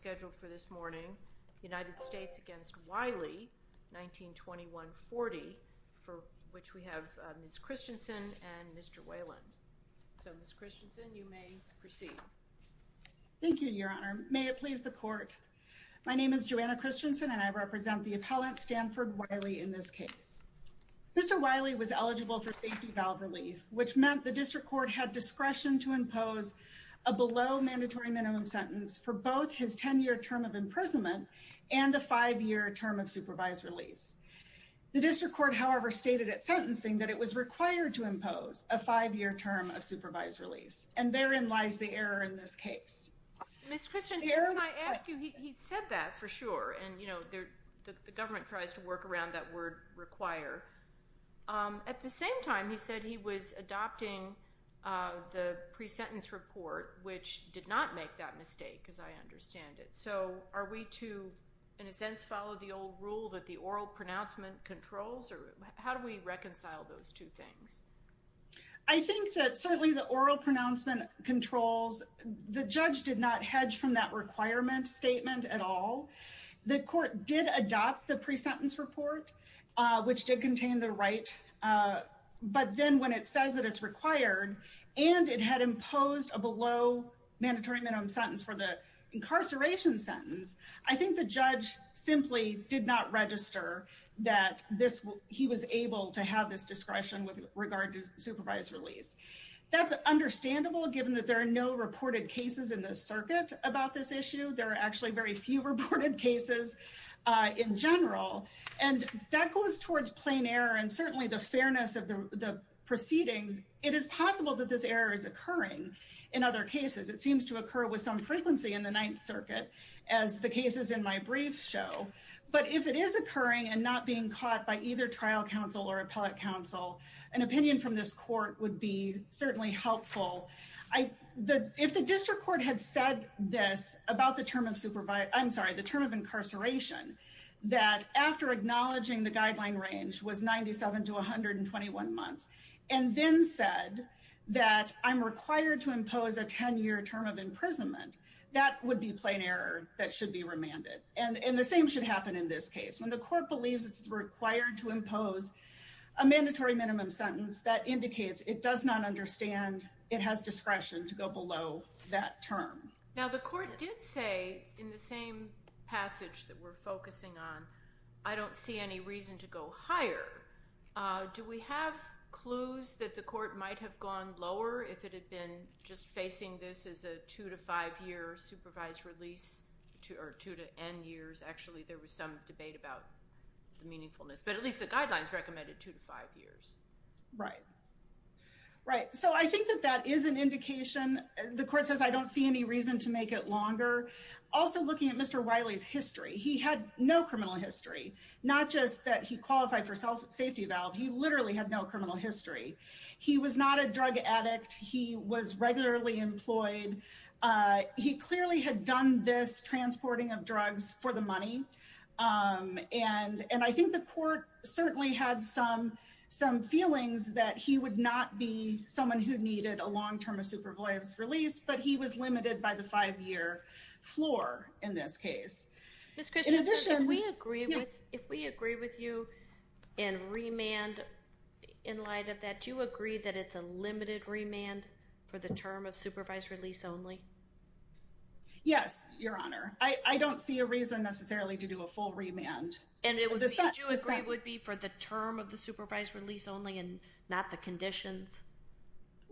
scheduled for this morning, United States against Wylie, 1921-40, for which we have Ms. Christensen and Mr. Whalen. So, Ms. Christensen, you may proceed. Thank you, Your Honor. May it please the Court. My name is Joanna Christensen, and I represent the appellant, Stanford Wylie, in this case. Mr. Wylie was eligible for safety valve relief, which meant the District Court had discretion to impose a below-mandatory minimum sentence for both his 10-year term of imprisonment and the 5-year term of supervised release. The District Court, however, stated at sentencing that it was required to impose a 5-year term of supervised release, and therein lies the error in this case. Ms. Christensen, can I ask you, he said that, for sure, and, you know, the government tries to work around that word, require. At the same time, he said he was adopting the pre-sentence report, which did not make that mistake, as I understand it. So, are we to, in a sense, follow the old rule that the oral pronouncement controls, or how do we reconcile those two things? I think that, certainly, the oral pronouncement controls, the judge did not hedge from that requirement statement at all. The Court did adopt the pre-sentence report, which did contain the right, but then when it says that it's required, and it had imposed a below-mandatory minimum sentence for the incarceration sentence, I think the judge simply did not register that he was able to have this discretion with regard to supervised release. That's understandable, given that there are no reported cases in the circuit about this issue. There are actually very few reported cases in general, and that it is possible that this error is occurring in other cases. It seems to occur with some frequency in the Ninth Circuit, as the cases in my brief show, but if it is occurring and not being caught by either trial counsel or appellate counsel, an opinion from this Court would be certainly helpful. If the District Court had said this about the term of supervise, I'm sorry, the term of incarceration, that after acknowledging the guideline range was 97 to 121 months, and then said that I'm required to impose a 10-year term of imprisonment, that would be plain error that should be remanded. And the same should happen in this case. When the Court believes it's required to impose a mandatory minimum sentence, that indicates it does not understand it has discretion to go below that term. Now the Court did say in the same passage that we're focusing on, I don't see any reason to go higher. Do we have clues that the Court might have gone lower if it had been just facing this as a 2 to 5 year supervised release, or 2 to N years? Actually, there was some debate about the meaningfulness, but at least the guidelines recommended 2 to 5 years. Right. So I think that that is an indication. The Court says I don't see any reason to make it longer. Also looking at Mr. Wiley's history, he had no criminal history, not just that he qualified for safety valve, he literally had no criminal history. He was not a drug addict. He was regularly employed. He clearly had done this transporting of drugs for the money. And I think the Court certainly had some feelings that he would not be someone who needed a long-term supervised release, but he was limited by the 5-year floor in this case. Ms. Christiansen, if we agree with you in remand in light of that, do you agree that it's a limited remand for the term of supervised release only? Yes, Your Honor. I don't see a reason necessarily to do a full remand. And would you agree it would be for the term of the supervised release only and not the conditions?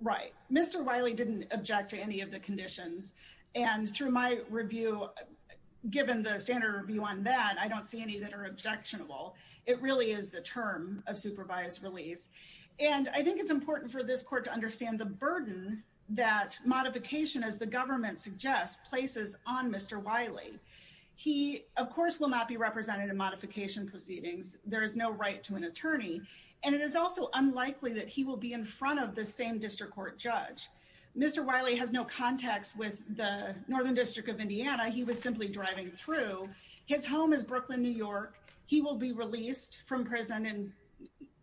Right. Mr. Wiley didn't object to any of the conditions. And through my review, given the standard review on that, I don't see any that are objectionable. It really is the term of supervised release. And I think it's important for this Court to understand the burden that modification, as the government suggests, places on Mr. Wiley. He, of course, will not be represented in modification proceedings. There is no right to an attorney. And it is also unlikely that he will be in front of the same district court judge. Mr. Wiley has no contacts with the Northern District of Indiana. He was simply driving through. His home is Brooklyn, New York. He will be released from prison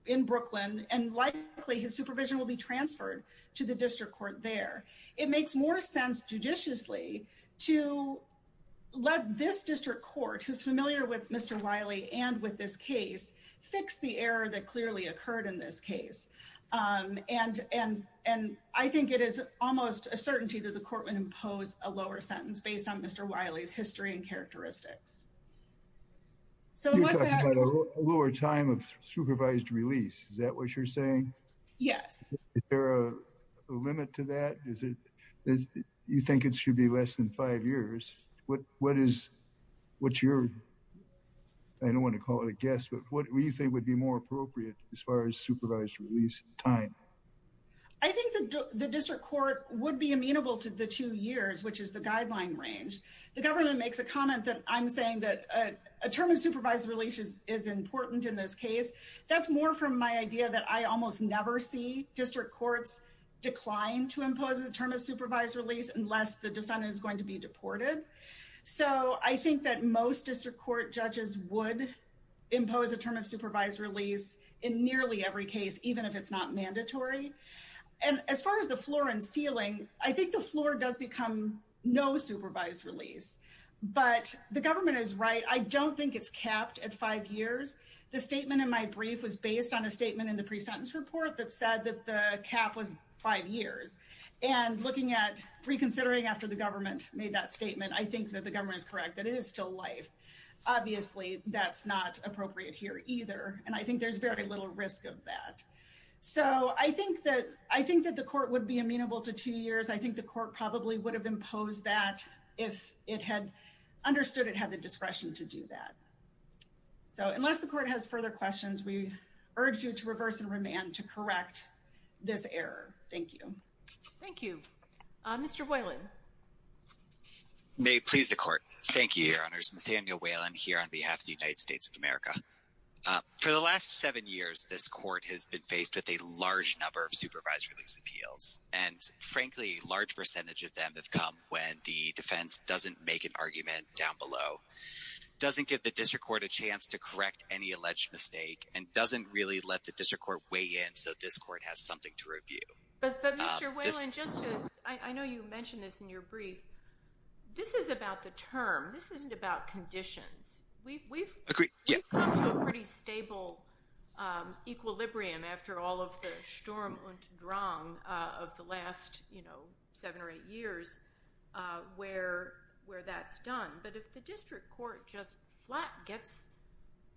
in Brooklyn, and likely his supervision will be transferred to the district court there. It makes more sense judiciously to let this district court, who's familiar with Mr. Wiley and with this case, fix the error that clearly occurred in this case. And I think it is almost a certainty that the Court would impose a lower sentence based on Mr. Wiley's history and characteristics. So what's that? You're talking about a lower time of supervised release. Is that what you're saying? Yes. Is there a limit to that? You think it should be less than five years. What is what's your I don't want to call it a guess, but what do you think would be more appropriate as far as supervised release time? I think the district court would be amenable to the two years, which is the guideline range. The government makes a comment that I'm saying that a term of supervised release is important in this case. That's more from my idea that I almost never see district courts decline to impose a term of supervised release unless the defendant is going to be deported. So I think that most district court judges would impose a term of supervised release in nearly every case, even if it's not mandatory. And as far as the floor and ceiling, I think the floor does become no supervised release. But the government is right. I don't think it's capped at five years. The statement in my brief was based on a statement in the pre-sentence report that said that the cap was five years. And looking at reconsidering after the government made that statement, I think that the government is correct that it is still life. Obviously, that's not appropriate here either. And I think there's very little risk of that. So I think that the court would be amenable to two years. I think the court probably would have imposed that if it had understood it had the discretion to do that. So unless the court has further questions, we urge you to reverse and remand to correct this error. Thank you. Thank you. Mr. Boylan. May it please the court. Thank you, Your Honors. Nathaniel Boylan here on behalf of the United States of America. For the last seven years, this court has been faced with a large number of supervised release appeals. And frankly, a large percentage of them have come when the defense doesn't make an argument down below, doesn't give the district court a chance to correct any alleged mistake, and doesn't really let the district court weigh in so this court has something to review. But Mr. Boylan, I know you mentioned this in your brief. This is about the term. This isn't about conditions. We've come to a pretty stable equilibrium after all of the storm of the last seven or eight years where that's done. But if the district court just flat gets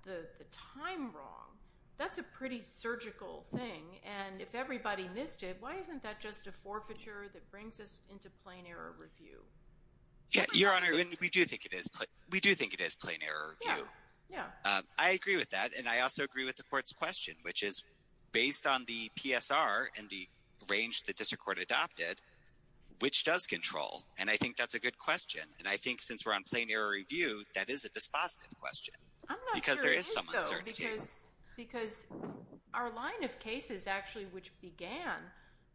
the time wrong, that's a pretty surgical thing. And if everybody missed it, why isn't that just a forfeiture that brings us into plain error review? Yeah, Your Honor, we do think it is. We do think it is plain error review. Yeah, yeah. I agree with that. And I also agree with the court's question, which is based on the PSR and the range the district court adopted, which does control? And I think that's a good question. And I think since we're on plain error review, that is a dispositive question. I'm not sure it is, though, because our line of cases, actually, which began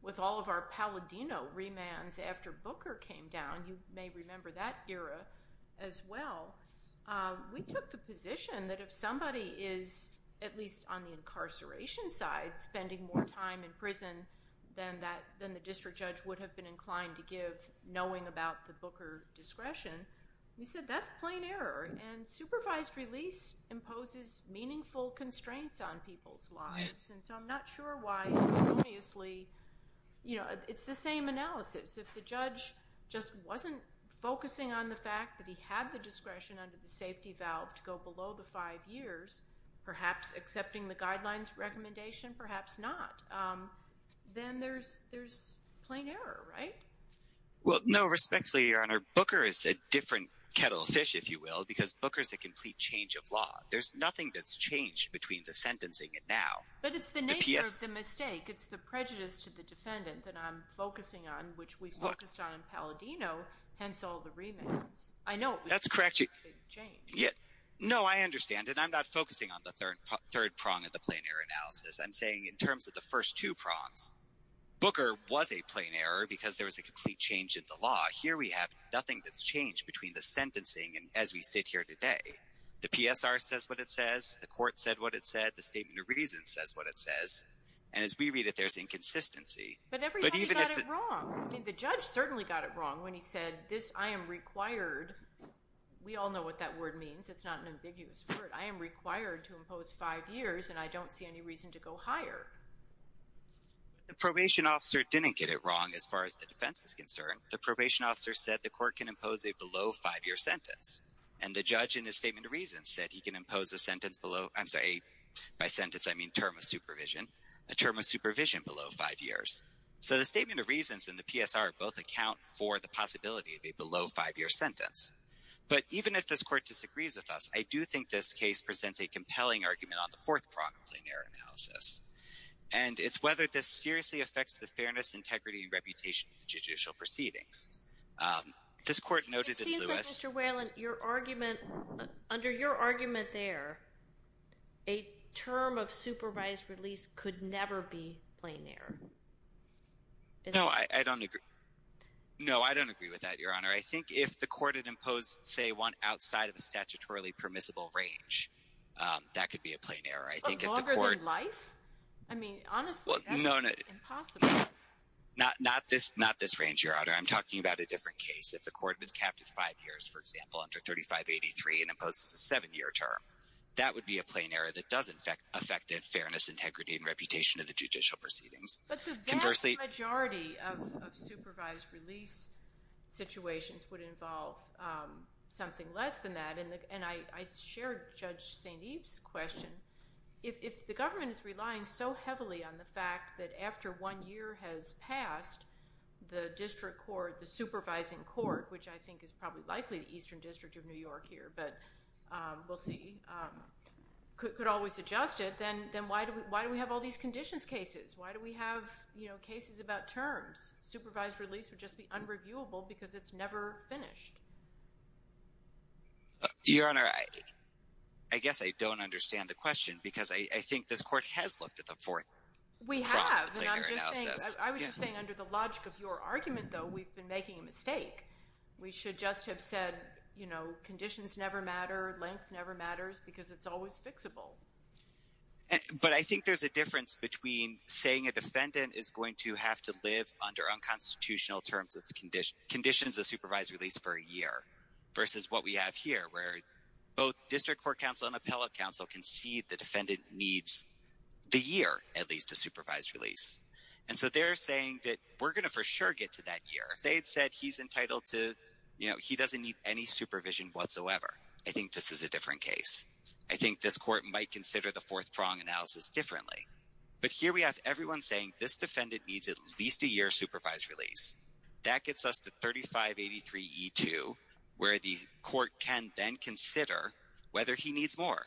with all of our Palladino remands after Booker came down, you may remember that era as well. We took the position that if somebody is, at least on the incarceration side, spending more time in prison than the district judge would have been inclined to give knowing about the And supervised release imposes meaningful constraints on people's lives. And so I'm not sure why, erroneously, it's the same analysis. If the judge just wasn't focusing on the fact that he had the discretion under the safety valve to go below the five years, perhaps accepting the guidelines recommendation, perhaps not, then there's plain error, right? Well, no, respectfully, Your Honor, Booker is a different kettle of fish, if you will, because Booker is a complete change of law. There's nothing that's changed between the sentencing and now. But it's the nature of the mistake. It's the prejudice to the defendant that I'm focusing on, which we focused on in Palladino, hence all the remands. That's correct. No, I understand. And I'm not focusing on the third prong of the plain error analysis. I'm saying in terms of the first two prongs, Booker was a plain error because there was a complete change in the law. Here we have nothing that's changed between the sentencing and as we sit here today. The PSR says what it says. The court said what it said. The statement of reason says what it says. And as we read it, there's inconsistency. But everybody got it wrong. I mean, the judge certainly got it wrong when he said this, I am required. We all know what that word means. It's not an ambiguous word. I am required. The probation officer didn't get it wrong as far as the defense is concerned. The probation officer said the court can impose a below five-year sentence. And the judge in his statement of reason said he can impose a sentence below, I'm sorry, by sentence I mean term of supervision, a term of supervision below five years. So the statement of reasons and the PSR both account for the possibility of a below five-year sentence. But even if this court disagrees with us, I do think this case presents a compelling argument on the fourth prong of plain error analysis. And it's whether this seriously affects the fairness, integrity, and reputation of the judicial proceedings. This court noted in Lewis It seems that, Mr. Whalen, your argument, under your argument there, a term of supervised release could never be plain error. No, I don't agree. No, I don't agree with that, Your Honor. I think if the court had imposed, say, one outside of a statutorily permissible range, that could be a plain error. I think if the court... Longer than life? I mean, honestly, that's impossible. No, no. Not this range, Your Honor. I'm talking about a different case. If the court was capped at five years, for example, under 3583 and imposes a seven-year term, that would be a plain error that does affect fairness, integrity, and reputation of the judicial proceedings. But the vast majority of supervised release situations would involve something less than that. And I share Judge St. Eve's question. If the government is relying so heavily on the fact that after one year has passed, the district court, the supervising court, which I think is probably likely the Eastern District of New York here, but we'll see, could always adjust it. Then why do we have all these conditions cases? Why do we have, you know, cases about terms? Supervised release would just be unreviewable because it's never finished. Your Honor, I guess I don't understand the question because I think this court has looked at the four-year analysis. We have. I was just saying under the logic of your argument, though, we've been making a mistake. We should just have said, you know, conditions never matter, length never matters, because it's always fixable. But I think there's a difference between saying a defendant is going to have to live under unconstitutional terms of conditions of supervised release for a year versus what we have here, where both district court counsel and appellate counsel can see the defendant needs the year at least to supervise release. And so they're saying that we're going to for sure get to that year. If they had said he's entitled to, you know, he doesn't need any supervision whatsoever, I think this is a different case. I think this court might consider the fourth prong analysis differently. But here we have everyone saying this defendant needs at least a year supervised release. That gets us to 3583E2, where the court can then consider whether he needs more.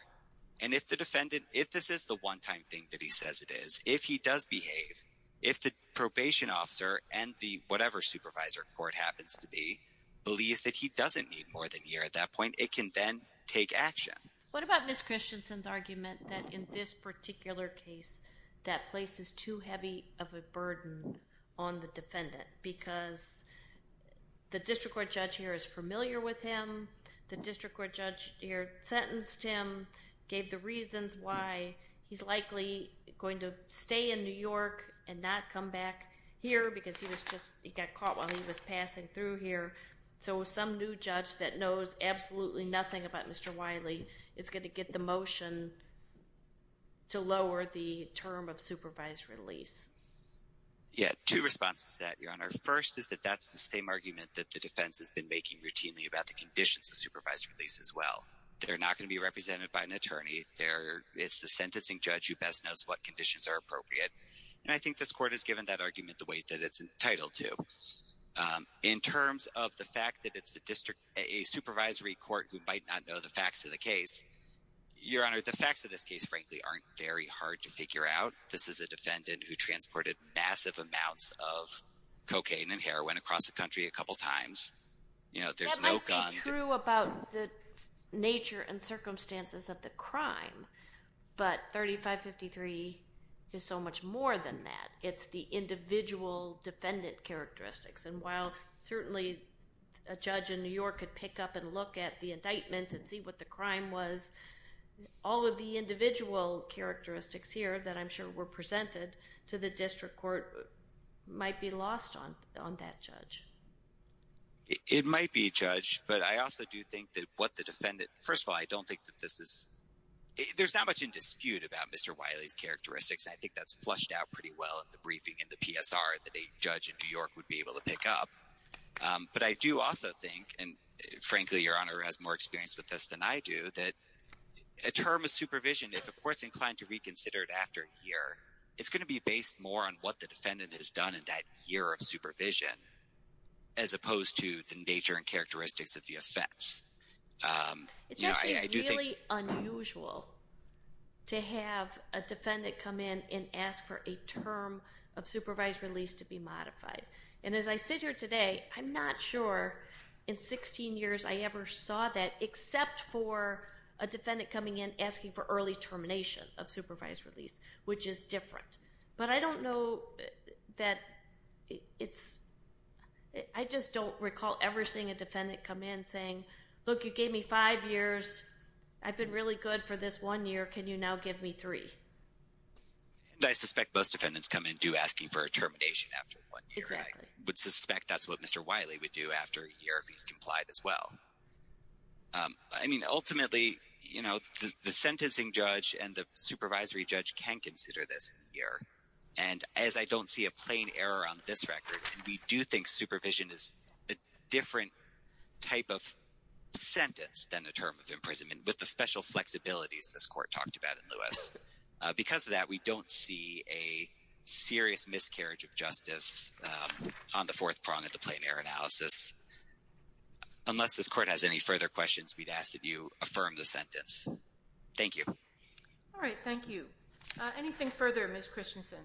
And if the defendant, if this is the one-time thing that he says it is, if he does behave, if the probation officer and the whatever supervisor court happens to be believes that he doesn't need more than a year at that point, it can then take action. What about Ms. Christensen's argument that in this particular case that place is too heavy of a burden on the defendant because the district court judge here is familiar with him, the district court judge here sentenced him, gave the reasons why he's likely going to stay in New York and not come back here because he was just, he got caught while he was passing through here. So some new judge that knows absolutely nothing about Mr. Wiley is going to get the motion to lower the term of supervised release. Yeah, two responses to that, Your Honor. First is that that's the same argument that the defense has been making routinely about the conditions of supervised release as well. They're not going to be represented by an attorney. They're, it's the sentencing judge who best knows what conditions are appropriate. And I think this fact that it's the district, a supervisory court who might not know the facts of the case, Your Honor, the facts of this case, frankly, aren't very hard to figure out. This is a defendant who transported massive amounts of cocaine and heroin across the country a couple times. You know, there's no gun. That might be true about the nature and circumstances of the crime, but 3553 is so much more than that. It's the individual defendant characteristics. And while certainly a judge in New York could pick up and look at the indictment and see what the crime was, all of the individual characteristics here that I'm sure were presented to the district court might be lost on that judge. It might be, Judge, but I also do think that what the defendant, first of all, I don't think that this is, there's not much in dispute about Mr. Wiley's characteristics. I think that's flushed out pretty well in the briefing, in the PSR, that a judge in New York would be able to pick up. But I do also think, and frankly, Your Honor has more experience with this than I do, that a term of supervision, if a court's inclined to reconsider it after a year, it's going to be based more on what the defendant has done in that year of supervision as opposed to the nature and characteristics of the offense. It's actually really unusual to have a defendant come in and ask for a term of supervised release to be modified. And as I sit here today, I'm not sure in 16 years I ever saw that except for a defendant coming in asking for early termination of supervised release, which is different. But I don't know that it's, I just don't recall ever seeing a defendant come in saying, look, you gave me five years, I've been really good for this one year, can you now give me three? I suspect most defendants come in and do ask you for a termination after one year. I would suspect that's what Mr. Wiley would do after a year if he's complied as well. I mean, ultimately, you know, the sentencing judge and the supervisory judge can consider this year. And as I don't see a plain error on this record, and we do think supervision is a different type of sentence than a term of imprisonment with the special flexibilities this court talked about in Lewis. Because of that, we don't see a serious miscarriage of justice on the fourth prong of the plain error analysis. Unless this court has any further questions, we'd ask that you affirm the sentence. Thank you. All right, thank you. Anything further, Ms. Christensen?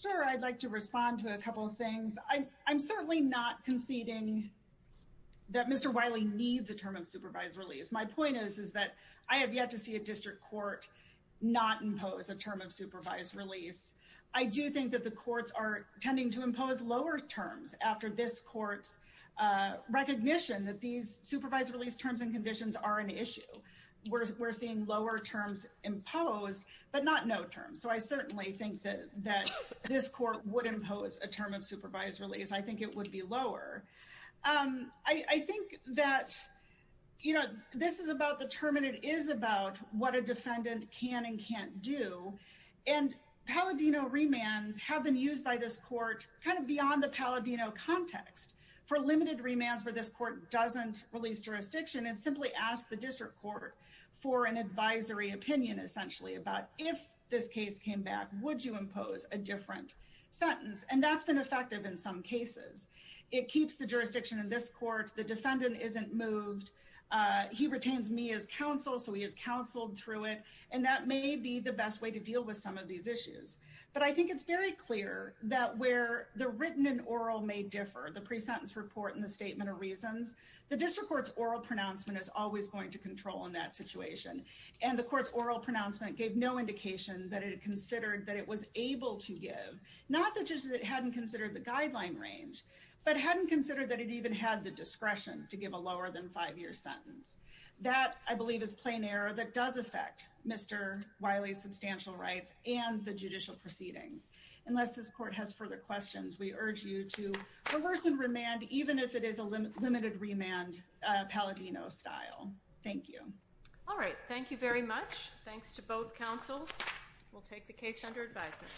Sure, I'd like to respond to a couple of things. I'm certainly not conceding that Mr. Wiley needs a term of supervised release. My point is, is that I have yet to see a district court not impose a term of supervised release. I do think that the courts are tending to impose lower terms after this court's recognition that these supervised release terms and conditions are an issue. We're seeing lower terms imposed, but not no terms. So I certainly think that this court would impose a term of supervised release. I think it would be lower. I think that this is about the term, and it is about what a defendant can and can't do. And Palladino remands have been used by this court kind of beyond the Palladino context for limited remands where this court doesn't release jurisdiction and simply ask the district court for an advisory opinion, essentially, about if this case came back, would you impose a different sentence? And that's been effective in some cases. It keeps the jurisdiction in this court. The defendant isn't moved. He retains me as counsel, so he is counseled through it. And that may be the best way to deal with some of these issues. But I think it's very clear that where the written and oral may differ, the pre-sentence report and the statement of reasons, the district court's oral pronouncement is always going to control in that situation. And the court's oral pronouncement gave no indication that it considered that it was able to give, not that it hadn't considered the guideline range, but hadn't considered that it even had the discretion to give a lower than five-year sentence. That, I believe, is plain error that does affect Mr. Wiley's substantial rights and the judicial proceedings. Unless this court has further questions, we urge you to coerce and remand, even if it is a limited remand, Palladino style. Thank you. All right. Thank you very much. Thanks to both counsel. We'll take the case under advisement.